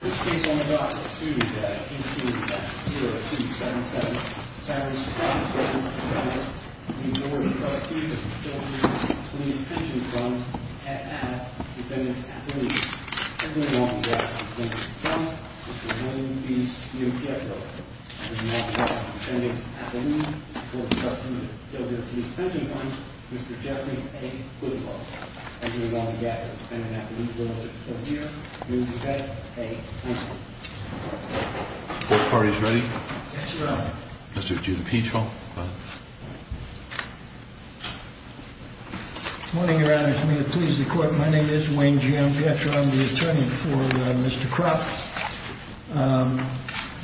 This case on the docks at 2-2-0-2-7-7 Fabricated by the President of the United States, the Board of Trutees of the Kildeer Police Pension Fund and by Defendant's affiliates, Mr. Geoffrey A. Goodfall, Mr. William B. Eugiepio, and by Defendant's affiliates, the Board of Trustees of the Kildeer Police Pension Fund, Mr. Geoffrey A. Goodfall, and by Defendant's affiliates, the Board of Trustees of the Kildeer Police Pension Fund. Are the four parties ready? Yes, Your Honor. Mr. Giudicicicio, go ahead. Good morning, Your Honor. If you will please the Court, my name is Wayne G. M. Pietro. I'm the attorney for Mr. Kropp.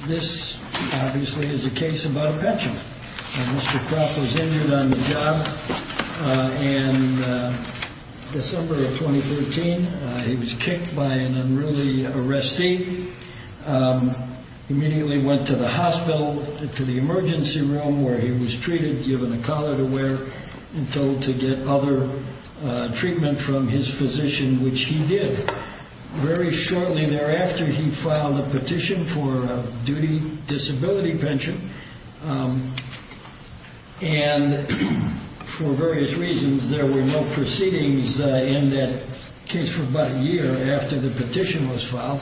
This, obviously, is a case about a pension. Mr. Kropp was injured on the job in December of 2013. He was kicked by an unruly arrestee, immediately went to the hospital, to the emergency room, where he was treated, given a collar to wear, and told to get other treatment from his physician, which he did. Very shortly thereafter, he filed a petition for a duty disability pension, and for various reasons, there were no proceedings in that case for about a year after the petition was filed.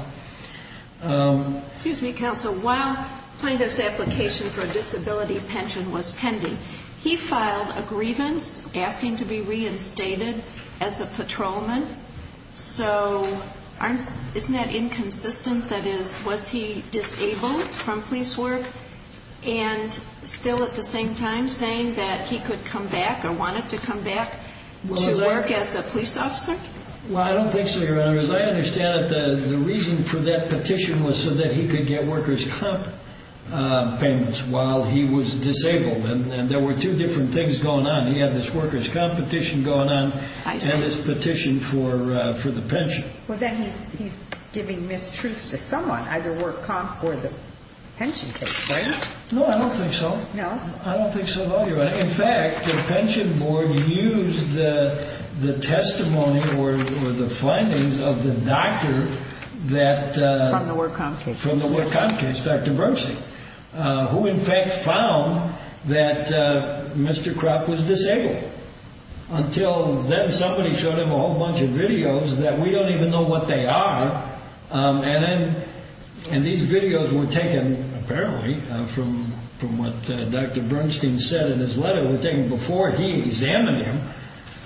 Excuse me, Counsel. While plaintiff's application for a disability pension was pending, he filed a grievance asking to be reinstated as a patrolman. So, isn't that inconsistent? That is, was he disabled from police work, and still at the same time, saying that he could come back, or wanted to come back to work as a police officer? Well, I don't think so, Your Honor. As I understand it, the reason for that petition was so that he could get workers' comp payments while he was disabled, and there were two different things going on. He had this workers' comp petition going on, and this petition for the pension. Well, then he's giving mistruths to someone, either work comp or the pension case, right? No, I don't think so. No? I don't think so at all, Your Honor. In fact, the pension board used the testimony, or the findings of the doctor that... From the work comp case. From the work comp case, Dr. Bernstein, who in fact found that Mr. Kropp was disabled, until then somebody showed him a whole bunch of videos that we don't even know what they are, and then, and these videos were taken, apparently, from what Dr. Bernstein said in his letter, before he examined him,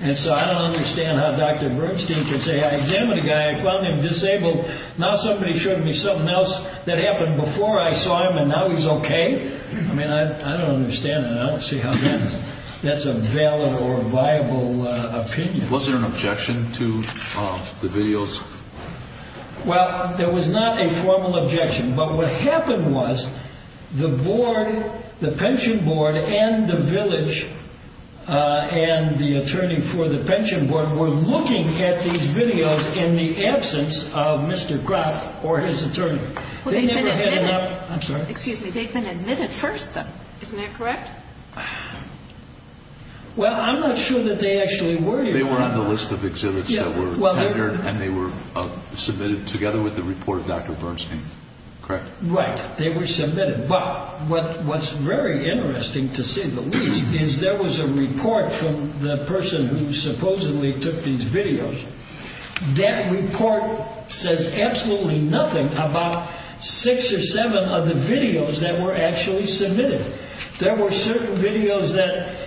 and so I don't understand how Dr. Bernstein could say, I examined a guy, I found him disabled, now somebody showed me something else that happened before I saw him, and now he's okay? I mean, I don't understand it. I don't see how that's a valid or viable opinion. Was there an objection to the videos? Well, there was not a formal objection, but what happened was, the board, the pension board and the village, and the attorney for the pension board were looking at these videos in the absence of Mr. Kropp or his attorney. Well, they've been admitted. I'm sorry? Excuse me, they've been admitted first, though. Isn't that correct? Well, I'm not sure that they actually were. They were on the list of exhibits that were tendered, and they were submitted together with the report of Dr. Bernstein, correct? Right, they were submitted, but what's very interesting, to say the least, is there was a report from the person who supposedly took these videos. That report says absolutely nothing about six or seven of the videos that were actually submitted. There were certain videos that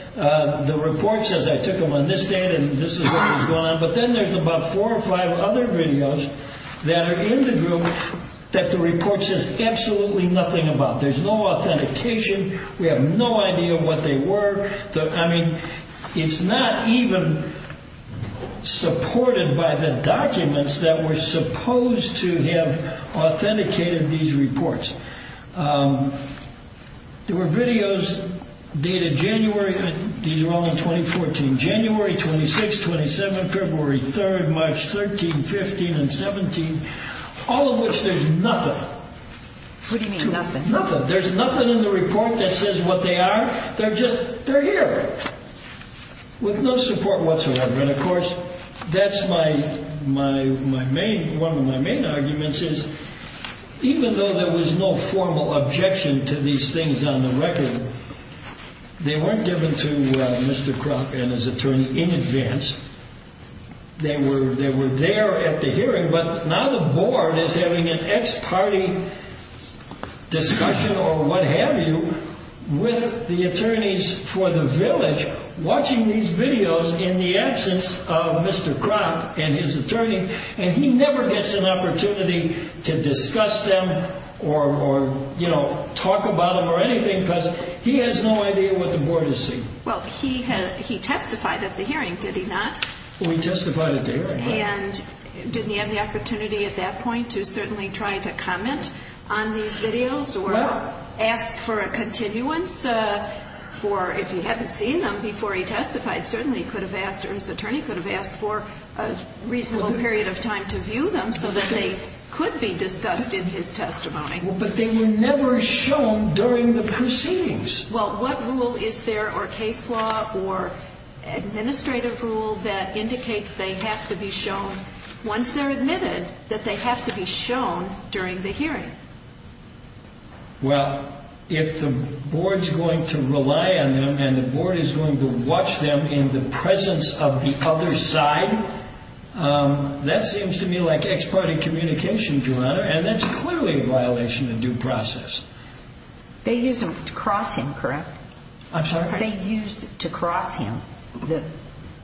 the report says, I took them on this date, and this is what was going on, but then there's about four or five other videos that are in the group that the report says absolutely nothing about. There's no authentication. We have no idea what they were. I mean, it's not even supported by the documents that were supposed to have authenticated these reports. There were videos dated January, these are all in 2014, January 26, 27, February 3, March 13, 15, and 17, all of which there's nothing. What do you mean nothing? There's nothing in the report that says what they are. They're just, they're here, with no support whatsoever. And of course, that's my main, one of my main arguments is, even though there was no formal objection to these things on the record, they weren't given to Mr. Kroc and his attorney in advance. They were there at the hearing, but now the board is having an ex-party discussion or what have you with the attorneys for the village watching these videos in the absence of Mr. Kroc and his attorney, and he never gets an opportunity to discuss them or talk about them or anything because he has no idea what the board is seeing. Well, he testified at the hearing, did he not? We testified at the hearing. And didn't he have the opportunity at that point to certainly try to comment on these videos or ask for a continuance for if he hadn't seen them before he testified, certainly he could have asked or his attorney could have asked for a reasonable period of time to view them so that they could be discussed in his testimony. But they were never shown during the proceedings. Well, what rule is there or case law or administrative rule that indicates they have to be shown once they're admitted that they have to be shown during the hearing? Well, if the board's going to rely on them and the board is going to watch them in the presence of the other side, that seems to me like ex parte communication, Your Honor, and that's clearly a violation of due process. They used them to cross him, correct? I'm sorry? They used to cross him,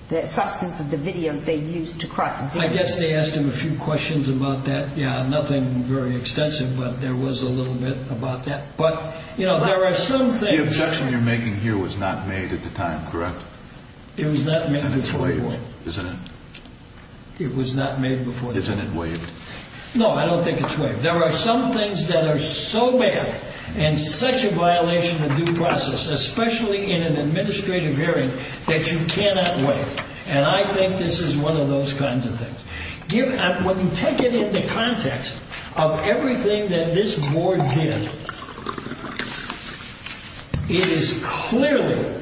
the substance of the videos they used to cross him. I guess they asked him a few questions about that. Yeah, nothing very extensive, but there was a little bit about that. But, you know, there are some things... The objection you're making here was not made at the time, correct? It was not made before the board. Isn't it? It was not made before the board. Isn't it waived? No, I don't think it's waived. There are some things that are so bad and such a violation of due process, especially in an administrative hearing that you cannot waive. And I think this is one of those kinds of things. When you take it in the context of everything that this board did, it is clearly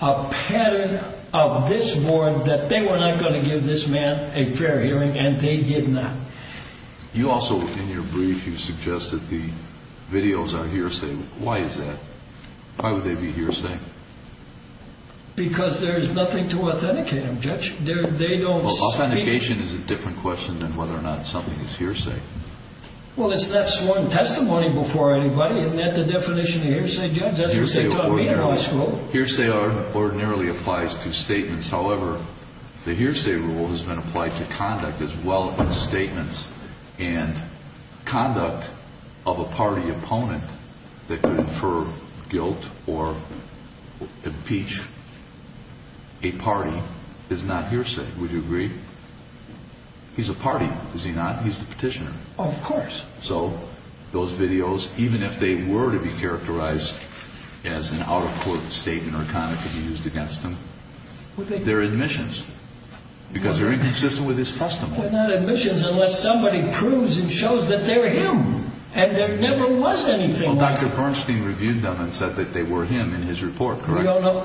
a pattern of this board that they were not going to give this man a fair hearing, and they did not. You also, in your brief, you suggested the videos are hearsay. Why is that? Why would they be hearsay? Because there's nothing to authenticate them, Judge. They don't speak... Authentication is a different question than whether or not something is hearsay. Well, that's one testimony before anybody. Isn't that the definition of hearsay, Judge? That's what they taught me in high school. Hearsay ordinarily applies to statements. However, the hearsay rule has been applied to conduct as well as statements. And conduct of a party opponent that could infer guilt or impeach a party is not hearsay. Would you agree? He's a party, is he not? He's the petitioner. Of course. So those videos, even if they were to be characterized as an out-of-court statement or kind of could be used against him, they're admissions because they're inconsistent with his testimony. They're not admissions unless somebody proves and shows that they're him. And there never was anything like that. Well, Dr. Bernstein reviewed them and said that they were him in his report, correct?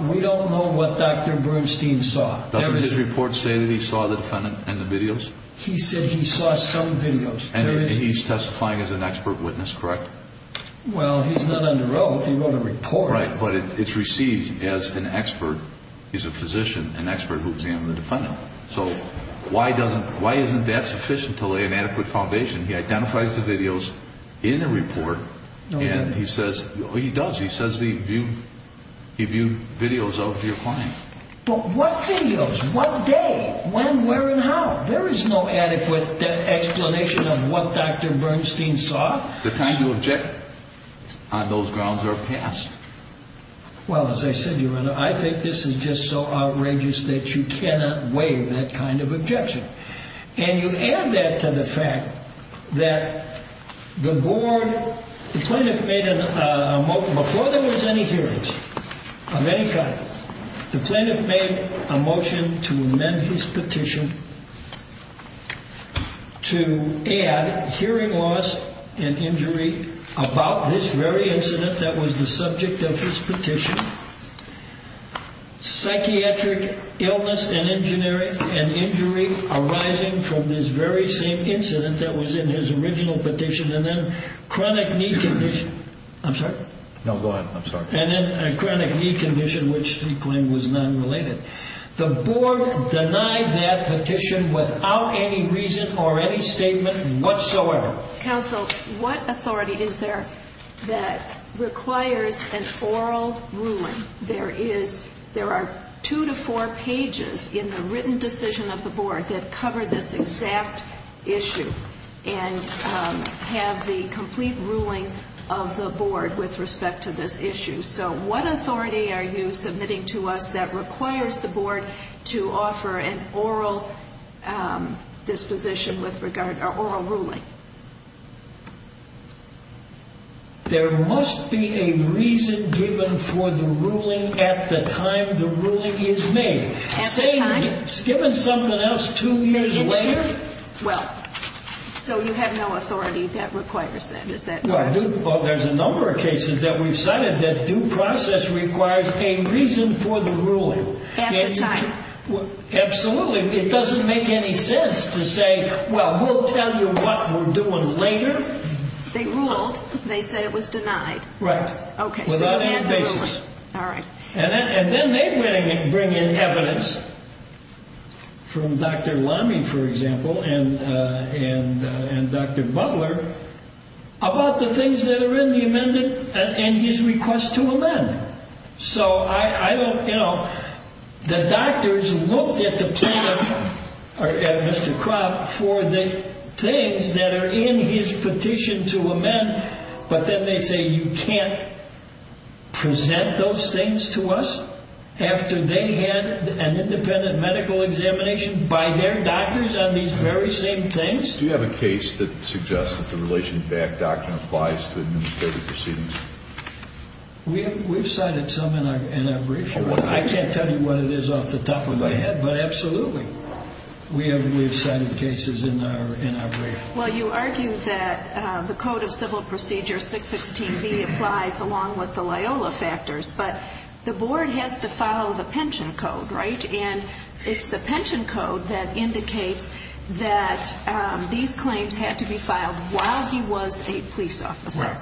We don't know what Dr. Bernstein saw. Doesn't his report say that he saw the defendant and the videos? He said he saw some videos. And he's testifying as an expert witness, correct? Well, he's not under oath. He wrote a report. Right, but it's received as an expert, he's a physician, an expert who examined the defendant. So why doesn't, why isn't that sufficient to lay an adequate foundation? He identifies the videos in the report and he says, he does, he says he viewed videos of your client. But what videos? What day? When, where and how? There is no adequate explanation of what Dr. Bernstein saw. The time to object on those grounds are past. Well, as I said, Your Honor, I think this is just so outrageous that you cannot waive that kind of objection. And you add that to the fact that the board, the plaintiff made a motion, before there was any hearings of any kind, the plaintiff made a motion to amend his petition to add hearing loss and injury about this very incident that was the subject of his petition. Psychiatric illness and injury arising from this very same incident that was in his original petition. And then chronic knee condition. I'm sorry? No, go ahead. I'm sorry. And then a chronic knee condition, which he claimed was non-related. The board denied that petition without any reason or any statement whatsoever. Counsel, what authority is there that requires an oral ruling? There is, there are two to four pages in the written decision of the board that cover this exact issue and have the complete ruling of the board with respect to this issue. So what authority are you submitting to us that requires the board to offer an oral disposition with regard, or oral ruling? There must be a reason given for the ruling at the time the ruling is made. At the time? Given something else two years later. Well, so you have no authority that requires that. Is that right? Well, there's a number of cases that we've cited that due process requires a reason for the ruling. At the time? Absolutely. It doesn't make any sense to say, well, we'll tell you what we're doing later. They ruled. They said it was denied. Right. Okay. Without any basis. All right. And then they bring in evidence from Dr. Lamy, for example, and Dr. Butler about the things that are in the amendment and his request to amend. So I don't, you know, the doctors looked at the plaintiff, or Mr. Kropp, for the things that are in his petition to amend. But then they say, you can't present those things to us after they had an independent medical examination by their doctors on these very same things. Do you have a case that suggests that the Relations Backed Doctrine applies to administrative proceedings? We've cited some in our brief. I can't tell you what it is off the top of my head, but absolutely. We have cited cases in our brief. Well, you argued that the Code of Civil Procedure 616B applies along with the Loyola factors, but the board has to follow the pension code, right? And it's the pension code that indicates that these claims had to be filed while he was a police officer,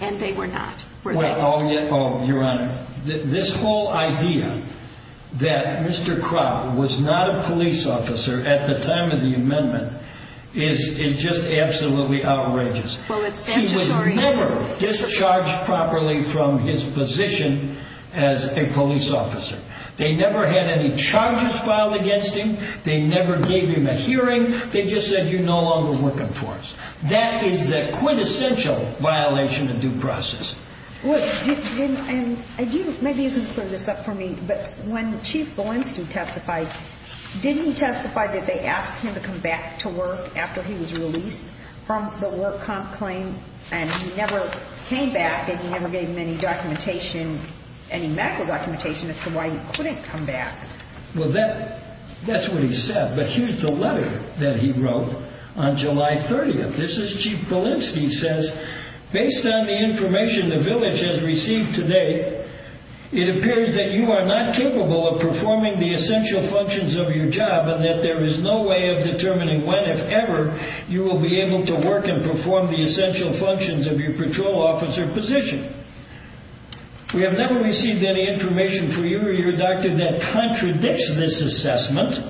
and they were not. Oh, Your Honor, this whole idea that Mr. Kropp was not a police officer at the time of the amendment is just absolutely outrageous. Well, it's statutory. He was never discharged properly from his position as a police officer. They never had any charges filed against him. They never gave him a hearing. They just said, you're no longer working for us. That is the quintessential violation of due process. And maybe you can clear this up for me, but when Chief Belinsky testified, didn't he testify that they asked him to come back to work after he was released from the work comp claim and he never came back and never gave him any documentation, any medical documentation as to why he couldn't come back? Well, that's what he said. But here's the letter that he wrote on July 30th. This is Chief Belinsky says, based on the information the village has received today, it appears that you are not capable of performing the essential functions of your job and that there is no way of determining when, if ever, you will be able to work and perform the essential functions of your patrol officer position. We have never received any information for you or your doctor that contradicts this assessment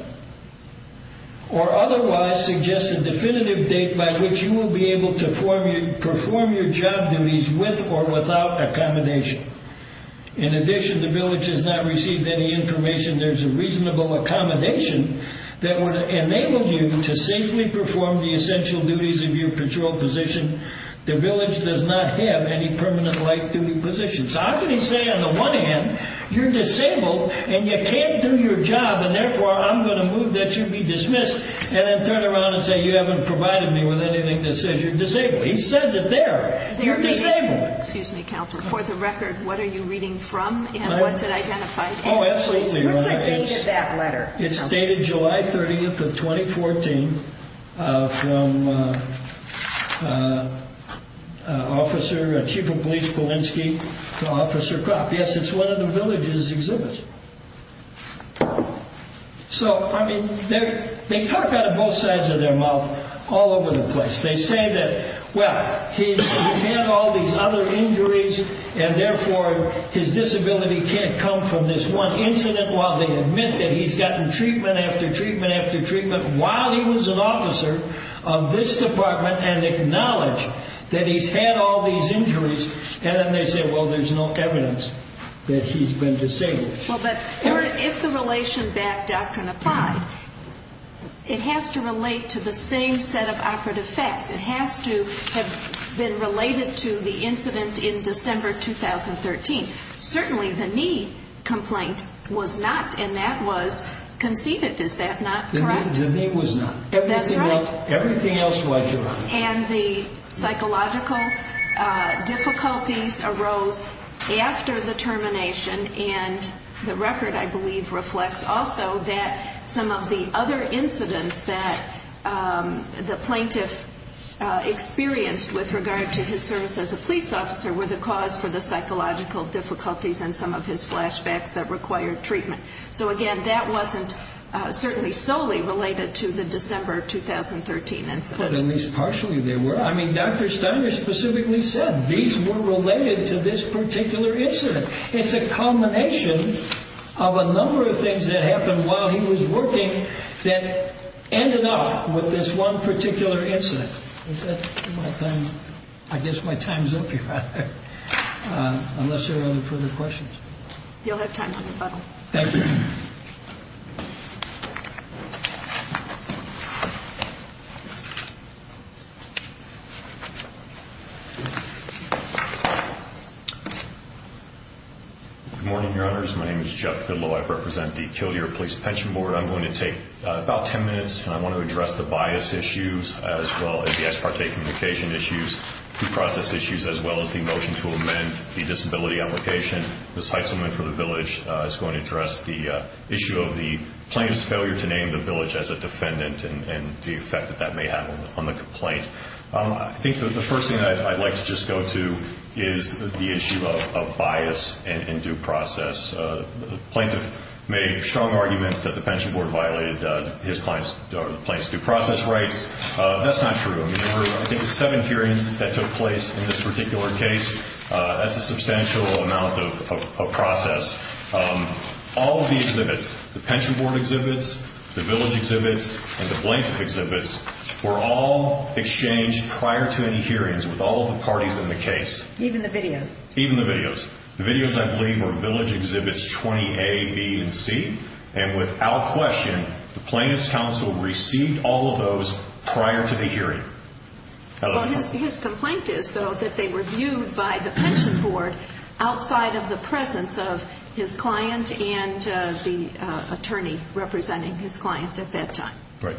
or otherwise suggests a definitive date by which you will be able to perform your job duties with or without accommodation. In addition, the village has not received any information. There's a reasonable accommodation that would enable you to safely perform the essential duties of your patrol position. The village does not have any permanent light duty position. So I'm going to say, on the one hand, you're disabled and you can't do your job and therefore I'm going to move that you be dismissed and then turn around and say, you haven't provided me with anything that says you're disabled. He says it there. You're disabled. Excuse me, Counselor. For the record, what are you reading from? And what's it identified? Oh, absolutely. What's the date of that letter? It's dated July 30th of 2014 from Officer, Chief of Police Polinski to Officer Cropp. Yes, it's one of the village's exhibits. So, I mean, they talk out of both sides of their mouth all over the place. They say that, well, he's had all these other injuries and therefore his disability can't come from this one incident while they admit that he's gotten treatment after treatment after treatment while he was an officer of this department and acknowledge that he's had all these injuries. And then they say, well, there's no evidence that he's been disabled. Well, but if the relation back doctrine applied, it has to relate to the same set of operative facts. It has to have been related to the incident in December 2013. Certainly the knee complaint was not and that was conceded. Is that not correct? The knee was not. That's right. Everything else was. And the psychological difficulties arose after the termination. And the record, I believe, reflects also that some of the other incidents that the plaintiff experienced with regard to his service as a police officer were the cause for the psychological difficulties and some of his flashbacks that required treatment. So again, that wasn't certainly solely related to the December 2013 incident, at least partially. They were. I mean, Dr. Steiner specifically said these were related to this particular incident. It's a culmination of a number of things that happened while he was working that ended up with this one particular incident. I guess my time is up here. Unless there are any further questions. You'll have time. Thank you. Thank you. Good morning, your honors. My name is Jeff Fidlow. I represent the Kildare Police Pension Board. I'm going to take about 10 minutes and I want to address the bias issues as well as the ex parte communication issues, due process issues, as well as the motion to amend the disability application. Ms. Heitzelman for the village is going to address the issue of the plaintiff's failure to name the village as a defendant and the effect that that may have on the complaint. I think the first thing that I'd like to just go to is the issue of bias and due process. The plaintiff made strong arguments that the pension board violated his client's or the plaintiff's due process rights. That's not true. I mean, there were I think seven hearings that took place in this particular case. That's a substantial amount of process. Um, all of the exhibits, the pension board exhibits, the village exhibits, and the plaintiff exhibits were all exchanged prior to any hearings with all of the parties in the case. Even the videos. Even the videos. The videos I believe were village exhibits 20 A, B, and C. And without question, the plaintiff's counsel received all of those prior to the hearing. His complaint is though that they were viewed by the pension board outside of the presence of his client and the attorney representing his client at that time. Right.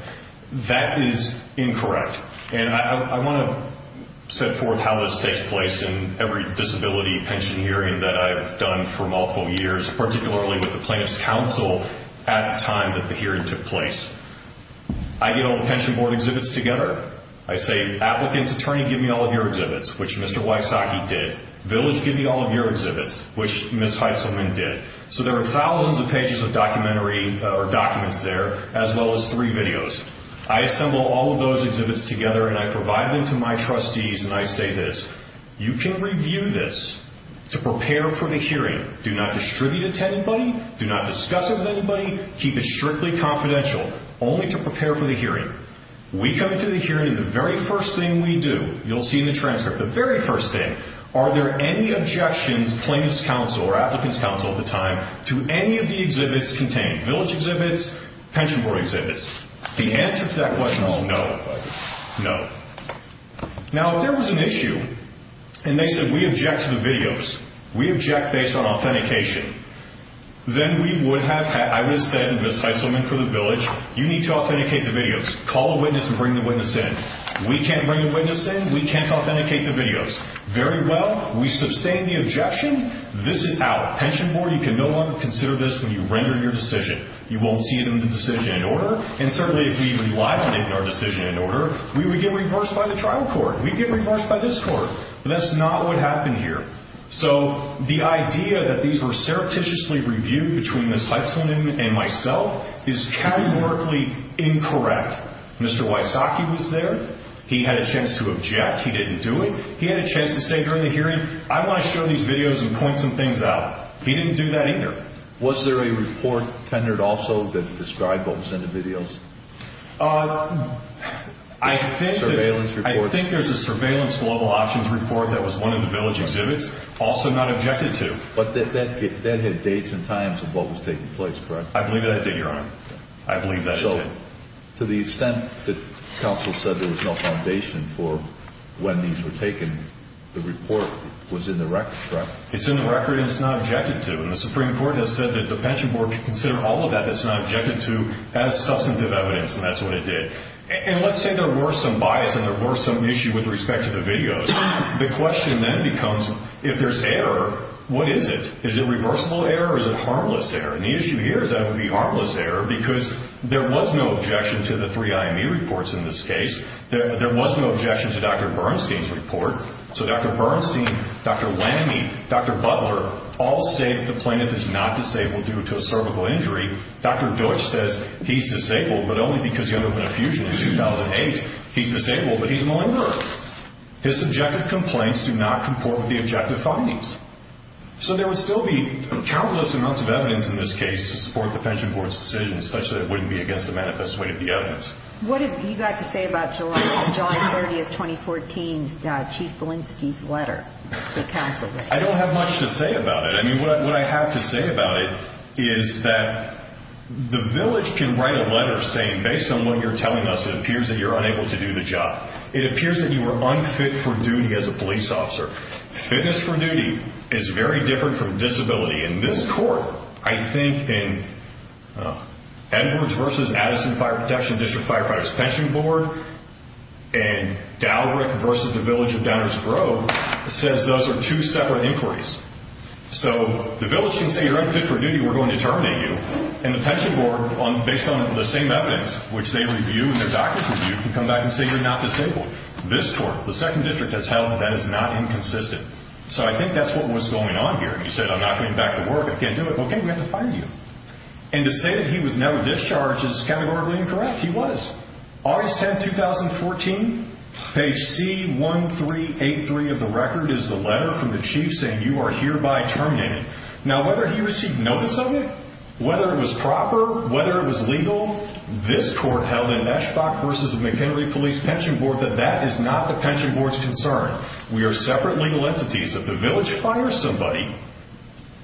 That is incorrect. And I want to set forth how this takes place in every disability pension hearing that I've done for multiple years, particularly with the plaintiff's counsel at the time that the hearing took place. I get all the pension board exhibits together. I say, Applicant's attorney, give me all of your exhibits, which Mr. Wysocki did. Village, give me all of your exhibits, which Ms. Heitzelman did. So there are thousands of pages of documentary or documents there, as well as three videos. I assemble all of those exhibits together and I provide them to my trustees. And I say this, you can review this to prepare for the hearing. Do not distribute it to anybody. Do not discuss it with anybody. Keep it strictly confidential only to prepare for the hearing. We come to the hearing and the very first thing we do, you'll see in the transcript, the very first thing, are there any objections plaintiff's counsel or applicant's counsel at the time to any of the exhibits contained? Village exhibits, pension board exhibits. The answer to that question is no. No. Now, if there was an issue and they said, we object to the videos, we object based on authentication, then we would have had, I would have said and Ms. Heitzelman for the village, you need to authenticate the videos. Call a witness and bring the witness in. We can't bring the witness in. We can't authenticate the videos. Very well. We sustain the objection. This is out. Pension board, you can no longer consider this when you render your decision. You won't see it in the decision in order. And certainly if we relied on it in our decision in order, we would get reversed by the trial court. We'd get reversed by this court. That's not what happened here. So the idea that these were surreptitiously reviewed between Ms. Heitzelman and myself is categorically incorrect. Mr. Wysocki was there. He had a chance to object. He didn't do it. He had a chance to say I want to show these videos and point some things out. He didn't do that either. Was there a report tendered also that described what was in the videos? I think there's a surveillance global options report that was one of the village exhibits, also not objected to. But that had dates and times of what was taking place, correct? I believe that did, Your Honor. I believe that did. So to the extent that counsel said there was no foundation for when these were taken, the report was in the record, correct? It's in the record and it's not objected to. And the Supreme Court has said that the Pension Board can consider all of that that's not objected to as substantive evidence, and that's what it did. And let's say there were some bias and there were some issue with respect to the videos. The question then becomes if there's error, what is it? Is it reversible error or is it harmless error? And the issue here is that it would be harmless error because there was no objection to the three IME reports in this case. There was no objection to Dr. Bernstein's report. Dr. Bernstein, Dr. Lamme, Dr. Butler all say that the plaintiff is not disabled due to a cervical injury. Dr. Deutsch says he's disabled, but only because he underwent a fusion in 2008. He's disabled, but he's malingered. His subjective complaints do not comport with the objective findings. So there would still be countless amounts of evidence in this case to support the Pension Board's decision such that it wouldn't be against the manifest way of the evidence. What have you got to say about July 30th, 2014's Chief Belinsky's letter? I don't have much to say about it. I mean, what I have to say about it is that the village can write a letter saying, based on what you're telling us, it appears that you're unable to do the job. It appears that you were unfit for duty as a police officer. Fitness for duty is very different from disability. In this court, I think in Edwards versus Addison Fire Protection District Firefighters Pension Board and Dalrick versus the village of Downers Grove, it says those are two separate inquiries. So the village can say you're unfit for duty. We're going to terminate you. And the pension board, based on the same evidence, which they review and their doctors review, can come back and say you're not disabled. This court, the second district that's held, that is not inconsistent. So I think that's what was going on here. And he said, I'm not going back to work. I can't do it. OK, we have to find you. And to say that he was never discharged is categorically incorrect. He was. August 10, 2014, page C1383 of the record is the letter from the chief saying you are hereby terminated. Now, whether he received notice of it, whether it was proper, whether it was legal, this court held in Eschbach versus the McHenry Police Pension Board, that that is not the pension board's concern. We are separate legal entities. If the village fires somebody,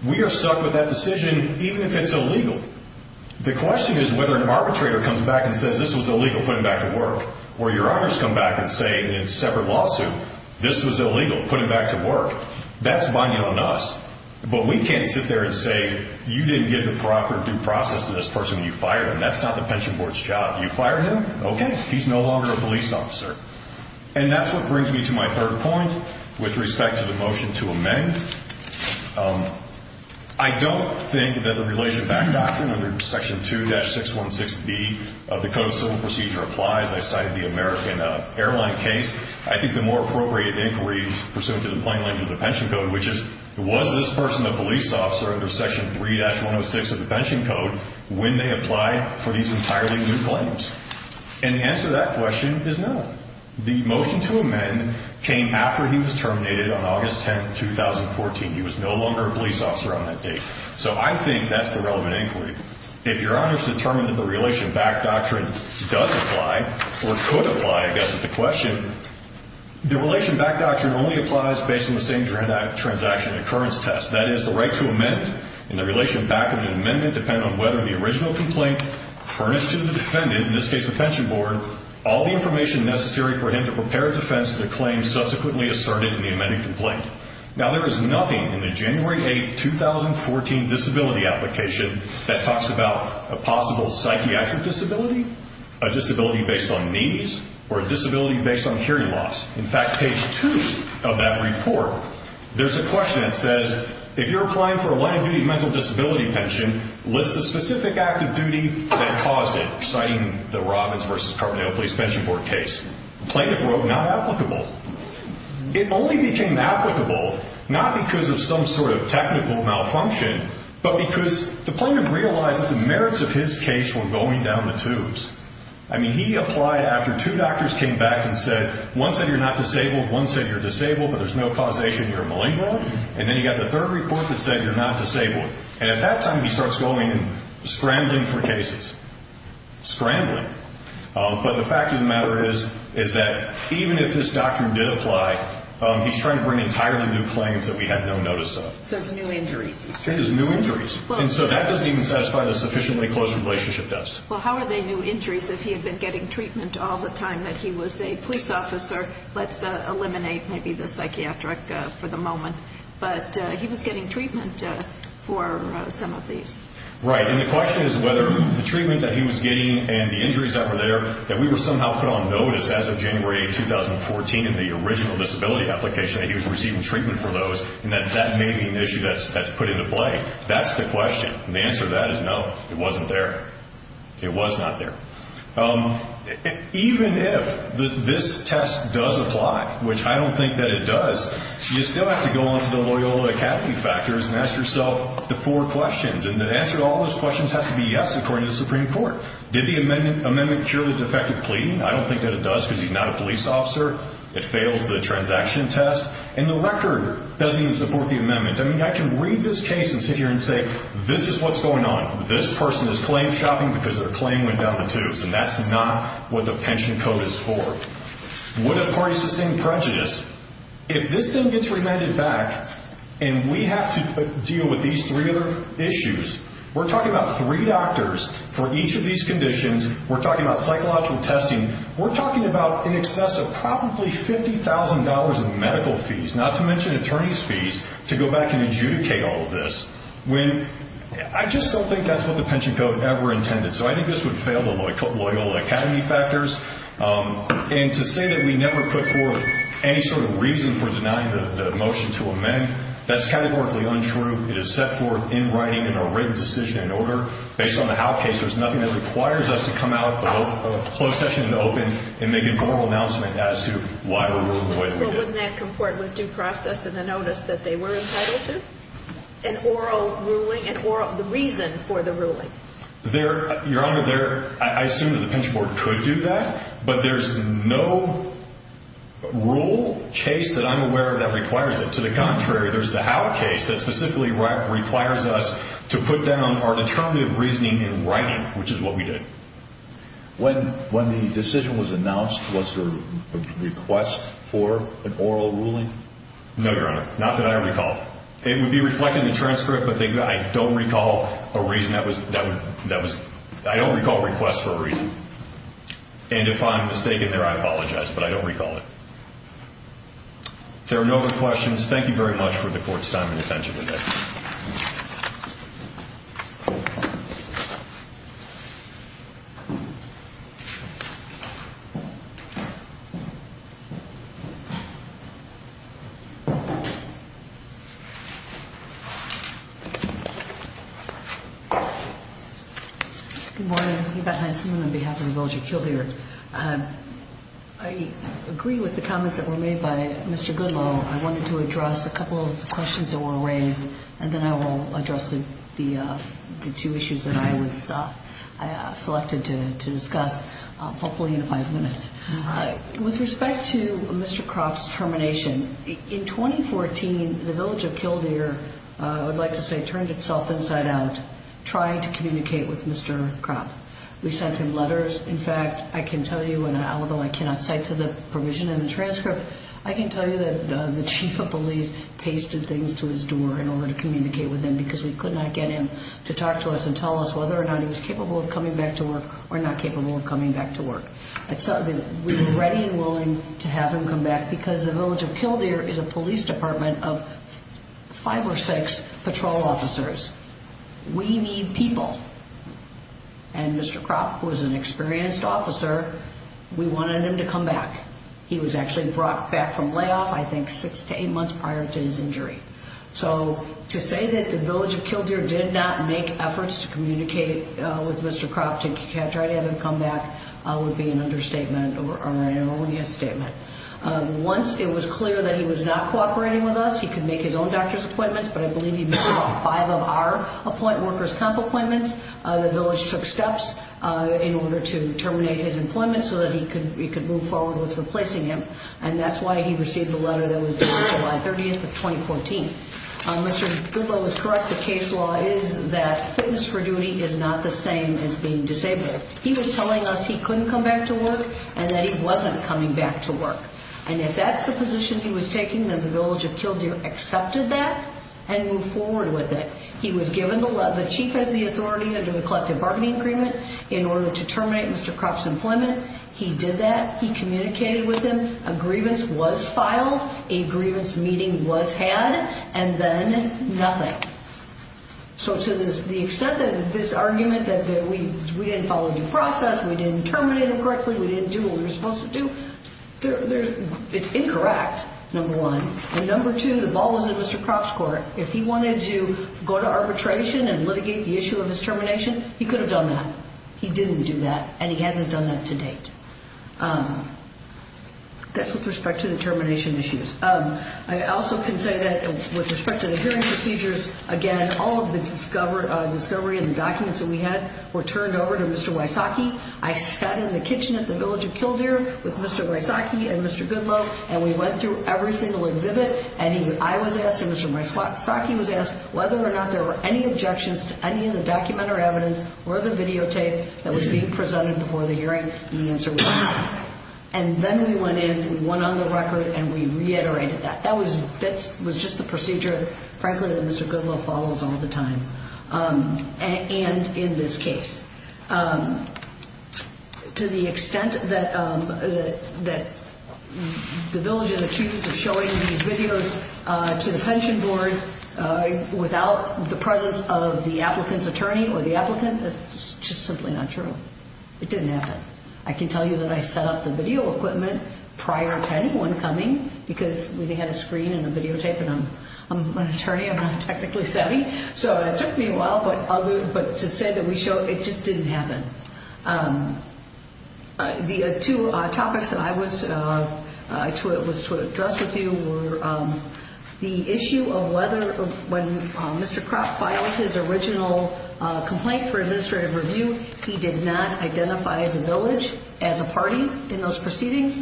we are stuck with that decision, even if it's illegal. The question is whether an arbitrator comes back and says this was illegal, put him back to work, or your others come back and say in a separate lawsuit, this was illegal, put him back to work. That's binding on us. But we can't sit there and say you didn't get the proper due process to this person when you fired him. That's not the pension board's job. You fired him. OK, he's no longer a police officer. And that's what brings me to my third point with respect to the motion to amend. I don't think that the Relation Back Doctrine under Section 2-616B of the Code of Civil Procedure applies. I cited the American Airline case. I think the more appropriate inquiry is pursuant to the plain language of the pension code, which is, was this person a police officer under Section 3-106 of the pension code when they applied for these entirely new claims? And the answer to that question is no. The motion to amend came after he was terminated on August 10, 2014. He was no longer a police officer on that date. So I think that's the relevant inquiry. If your honors determined that the Relation Back Doctrine does apply, or could apply, I guess, at the question, the Relation Back Doctrine only applies based on the same transaction occurrence test, that is, the right to amend in the relation back of an amendment depending on whether the original complaint furnished to the defendant, in this case, the pension board, all the information necessary for him to prepare a defense to the claim subsequently asserted in the amended complaint. Now, there is nothing in the January 8, 2014 disability application that talks about a possible psychiatric disability, a disability based on needs, or a disability based on hearing loss. In fact, page two of that report, there's a question that says, if you're applying for a line of duty mental disability pension, list a specific act of duty that caused it, citing the Robbins versus Carbonado Police Pension Board case. The plaintiff wrote not applicable. It only became applicable not because of some sort of technical malfunction, but because the plaintiff realized the merits of his case were going down the tubes. I mean, he applied after two doctors came back and said, one said you're not disabled, one said you're disabled, but there's no causation you're malignant. And then you got the third report that said you're not disabled. And at that time, he starts going and scrambling for cases. Scrambling. But the fact of the matter is, is that even if this doctrine did apply, he's trying to bring entirely new claims that we had no notice of. So it's new injuries. It is new injuries. And so that doesn't even satisfy the sufficiently close relationship test. Well, how are they new injuries if he had been getting treatment all the time that he was a police officer? Let's eliminate maybe the psychiatric for the moment. But he was getting treatment for some of these. Right. And the question is whether the treatment that he was getting and the injuries that were there that we were somehow put on notice as of January 2014 in the original disability application that he was receiving treatment for those and that that may be an issue that's put into play. That's the question. The answer to that is no. It wasn't there. It was not there. Even if this test does apply, which I don't think that it does, you still have to go on to the Loyola Academy factors and ask yourself the four questions. And the answer to all those questions has to be yes, according to the Supreme Court. Did the amendment purely defective pleading? I don't think that it does because he's not a police officer. It fails the transaction test. And the record doesn't even support the amendment. I mean, I can read this case and sit here and say, this is what's going on. This person is claim shopping because their claim went down the tubes. And that's not what the pension code is for. Would it party sustain prejudice if this thing gets remanded back and we have to deal with these three other issues? We're talking about three doctors for each of these conditions. We're talking about psychological testing. We're talking about in excess of probably $50,000 in medical fees, not to mention attorney's fees to go back and adjudicate all of this. When I just don't think that's what the pension code ever intended. So I think this would fail the Loyola Academy factors. And to say that we never put forth any sort of reason for denying the motion to amend, that's categorically untrue. It is set forth in writing in a written decision and order based on the how case. There's nothing that requires us to come out of closed session and open and make an oral announcement as to why we're ruling the way that we did. Well, wouldn't that comport with due process and the notice that they were entitled to? An oral ruling and or the reason for the ruling there. Your Honor, there I assume that the pension board could do that, but there's no rule case that I'm aware of that requires it. To the contrary, there's the how case that specifically requires us to put down our determinative reasoning in writing, which is what we did. When the decision was announced, was there a request for an oral ruling? No, Your Honor. Not that I recall. It would be reflected in the transcript, but I don't recall a reason. That was, that was, that was, I don't recall requests for a reason. And if I'm mistaken there, I apologize, but I don't recall it. There are no other questions. Thank you very much for the court's time and attention today. Good morning. Evette Heisenman on behalf of the Village of Kildare. I agree with the comments that were made by Mr. Goodlow. I wanted to address a couple of questions that were raised and then I will address the two issues that I was selected to discuss, hopefully in five minutes. With respect to Mr. Croft's termination, in 2014, the Village of Kildare, I would like to say, turned itself inside out, trying to communicate with Mr. Croft. We sent him letters. In fact, I can tell you, and although I cannot cite to the provision in the transcript, I can tell you that the chief of police pasted things to his door in order to communicate with him because we could not get him to talk to us and tell us whether or not he was capable of coming back to work or not capable of coming back to work. We were ready and willing to have him come back because the Village of Kildare is a police department of five or six patrol officers. We need people. And Mr. Croft was an experienced officer. We wanted him to come back. He was actually brought back from layoff, I think six to eight months prior to his injury. So to say that the Village of Kildare did not make efforts to communicate with Mr. Croft to try to have him come back would be an understatement or an erroneous statement. Once it was clear that he was not cooperating with us, he could make his own doctor's appointments, but I believe he received five of our workers' comp appointments. The Village took steps in order to terminate his employment so that he could move forward with replacing him. And that's why he received the letter that was due July 30th of 2014. Mr. Goodlow was correct. The case law is that fitness for duty is not the same as being disabled. He was telling us he couldn't come back to work and that he wasn't coming back to work. And if that's the position he was taking, then the Village of Kildare accepted that and moved forward with it. He was given the chief has the authority under the collective bargaining agreement in order to terminate Mr. Croft's employment. He did that. He communicated with him. A grievance was filed. A grievance meeting was had and then nothing. So to the extent that this argument that we didn't follow the process, we didn't terminate him correctly, we didn't do what we were supposed to do. It's incorrect, number one. And number two, the ball was in Mr. Croft's court. If he wanted to go to arbitration and litigate the issue of his termination, he could have done that. He didn't do that and he hasn't done that to date. That's with respect to the termination issues. I also can say that with respect to the hearing procedures, again, all of the discovery and the documents that we had were turned over to Mr. Wysocki. I sat in the kitchen at the Village of Kildare with Mr. Wysocki and Mr. Goodloe and we went through every single exhibit and I was asked and Mr. Wysocki was asked whether or not there were any objections to any of the document or evidence or the videotape that was being presented before the hearing and the answer was no. And then we went in, we went on the record and we reiterated that. That was just the procedure, frankly, that Mr. Goodloe follows all the time and in this case. To the extent that the Village and the Chiefs are showing these videos to the pension board without the presence of the applicant's attorney or the applicant, it's just simply not true. It didn't happen. I can tell you that I set up the video equipment prior to anyone coming because we had a screen and a videotape and I'm an attorney, I'm not technically semi. So it took me a while, but to say that we showed, it just didn't happen. The two topics that I was to address with you were the issue of whether when Mr. Kropp filed his original complaint for administrative review, he did not identify the Village as a party in those proceedings.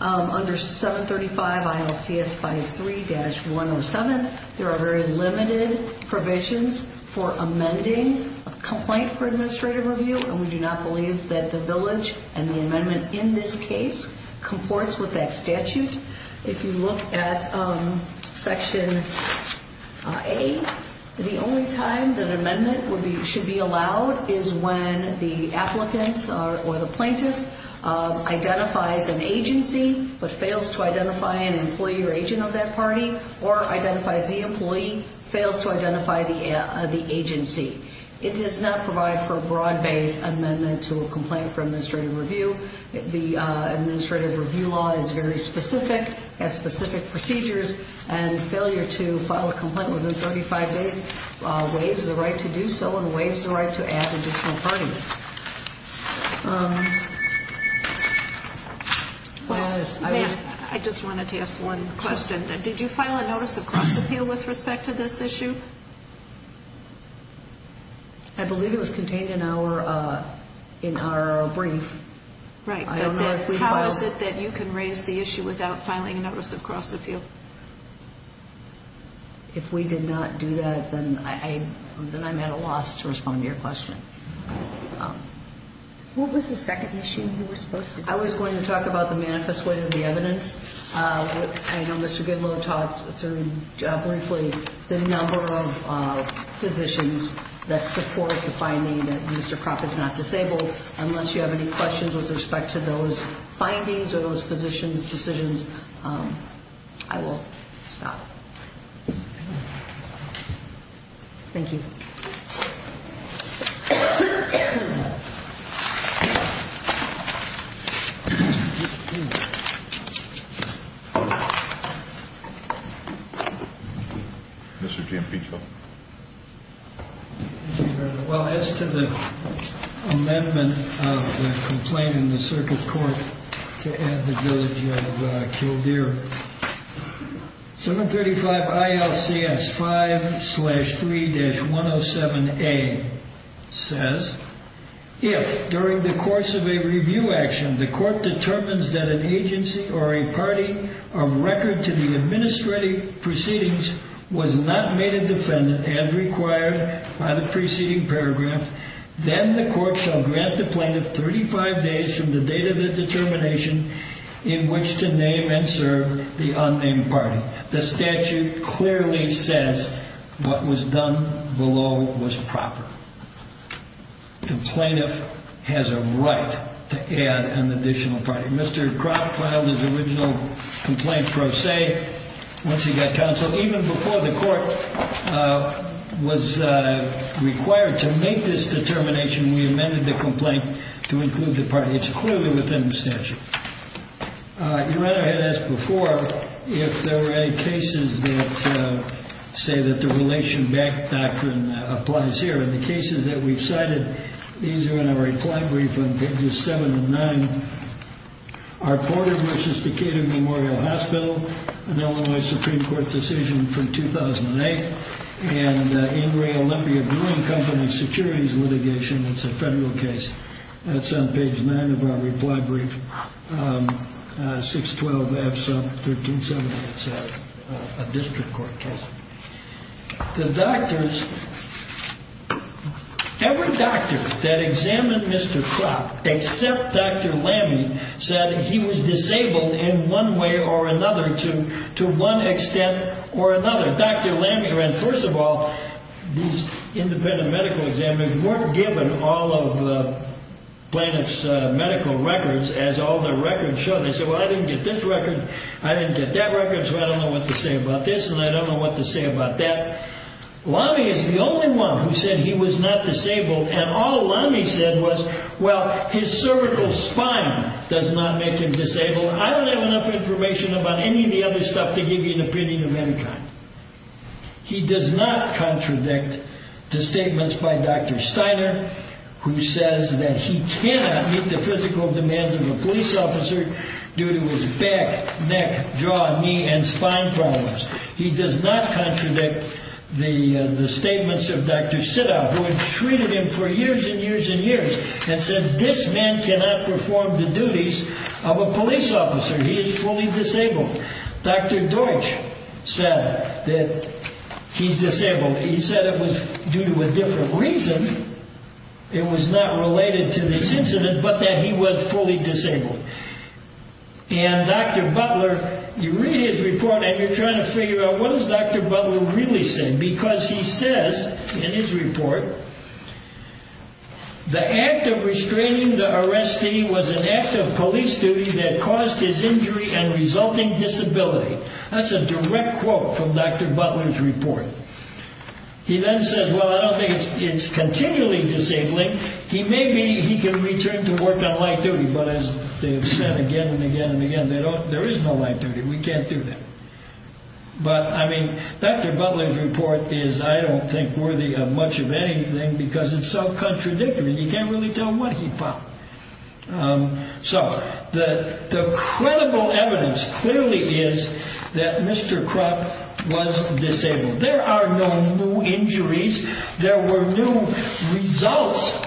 Under 735 ILCS 53-107, there are very limited provisions for amending a complaint for administrative review and we do not believe that the Village and the amendment in this case comports with that statute. If you look at section A, the only time that amendment should be allowed is when the applicant or the plaintiff identifies an agency but fails to identify an employee or agent of that party or identifies the employee fails to identify the agency. It does not provide for a broad-based amendment to a complaint for administrative review. The administrative review law is very specific, has specific procedures, and failure to file a complaint within 35 days waives the right to do so and waives the right to add additional parties. I just wanted to ask one question. Did you file a notice of cross-appeal with respect to this issue? I believe it was contained in our brief. Right, but then how is it that you can raise the issue without filing a notice of cross-appeal? If we did not do that, then I'm at a loss to respond to your question. What was the second issue you were supposed to discuss? I was going to talk about the manifest way of the evidence. I know Mr. Goodloe talked briefly the number of cases that were filed and the number of positions that support the finding that Mr. Krop is not disabled. Unless you have any questions with respect to those findings or those positions, decisions, I will stop. Thank you. Mr. Giampinco. Well, as to the amendment of the complaint in the circuit court to add the village of Kildare, 735 ILCS 5-3-107A says, if during the course of a review action, the court determines that an agency or a party of record to the administrative proceedings was not made a defendant as required by the preceding paragraph, then the court shall grant the plaintiff 35 days from the date of the determination in which to name and serve the unnamed party. The statute clearly says what was done below was proper. The plaintiff has a right to add an additional party. Mr. Krop filed his original complaint pro se once he got counsel. Even before the court was required to make this determination, we amended the complaint to include the party. It's clearly within the statute. Your Honor, I had asked before if there were any cases that say that the relation back doctrine applies here. And the cases that we've cited, these are in our reply brief on pages seven and nine. Our Porter v. Decatur Memorial Hospital, an Illinois Supreme Court decision from 2008, and Ingray Olympia Brewing Company securities litigation. It's a federal case. That's on page nine of our reply brief. 612F sub 1370. It's a district court case. The doctors. Every doctor that examined Mr. Krop except Dr. Lammy said he was disabled in one way or another to one extent or another. Dr. Lammy, and first of all, these independent medical examiners weren't given all of the plaintiff's medical records as all the records show. They said, well, I didn't get this record. I didn't get that record. So I don't know what to say about this. And I don't know what to say about that. Lammy is the only one who said he was not disabled. And all Lammy said was, well, his cervical spine does not make him disabled. I don't have enough information about any of the other stuff to give you an opinion of any kind. He does not contradict the statements by Dr. Steiner, who says that he cannot meet the physical demands of a police officer due to his back, neck, jaw, knee, and spine problems. He does not contradict the statements of Dr. Sitow, who had treated him for years and years and years, and said this man cannot perform the duties of a police officer. He is fully disabled. Dr. Deutsch said that he's disabled. He said it was due to a different reason. It was not related to this incident, but that he was fully disabled. And Dr. Butler, you read his report and you're trying to figure out what is Dr. Butler really saying? Because he says in his report, the act of restraining the arrestee was an act of police duty that caused his injury and resulting disability. That's a direct quote from Dr. Butler's report. He then says, well, I don't think it's continually disabling. He may be, he can return to work on light duty, but as they have said again and again and again, there is no light duty. We can't do that. But I mean, Dr. Butler's report is, I don't think, worthy of much of anything because it's so contradictory. You can't really tell what he found. So the credible evidence clearly is that Mr. Krupp was disabled. There are no new injuries. There were new results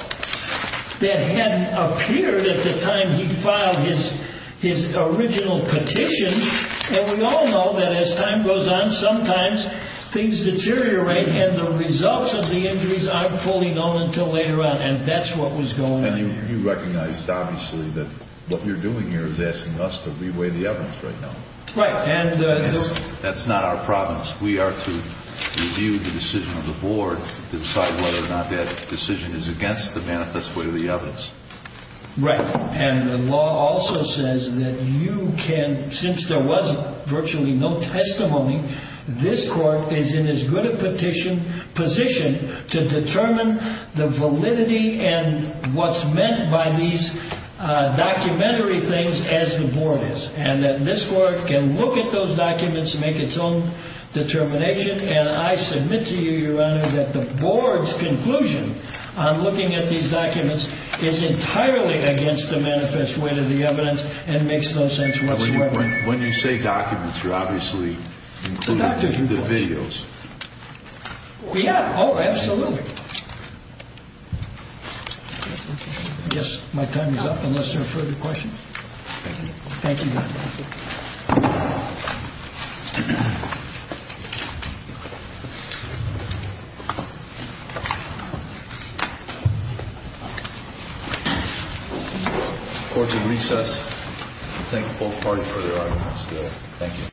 that had appeared at the time he filed his original petition. And we all know that as time goes on, sometimes things deteriorate and the results of the injuries aren't fully known until later on. And that's what was going on. And you recognized, obviously, that what you're doing here is asking us to reweigh the evidence right now. Right. That's not our province. We are to review the decision of the board to decide whether or not that decision is against the manifest way of the evidence. Right. And the law also says that you can, since there was virtually no testimony, this court is in as good a petition position to determine the validity and what's meant by these documentary things as the board is. And that this court can look at those documents, make its own determination. And I submit to you, Your Honor, that the board's conclusion on looking at these documents is entirely against the manifest way of the evidence and makes no sense whatsoever. When you say documents, you're obviously including the videos. Yeah, oh, absolutely. I guess my time is up unless there are further questions. Thank you. Thank you. Court is in recess. Thank the whole party for their arguments today. Thank you.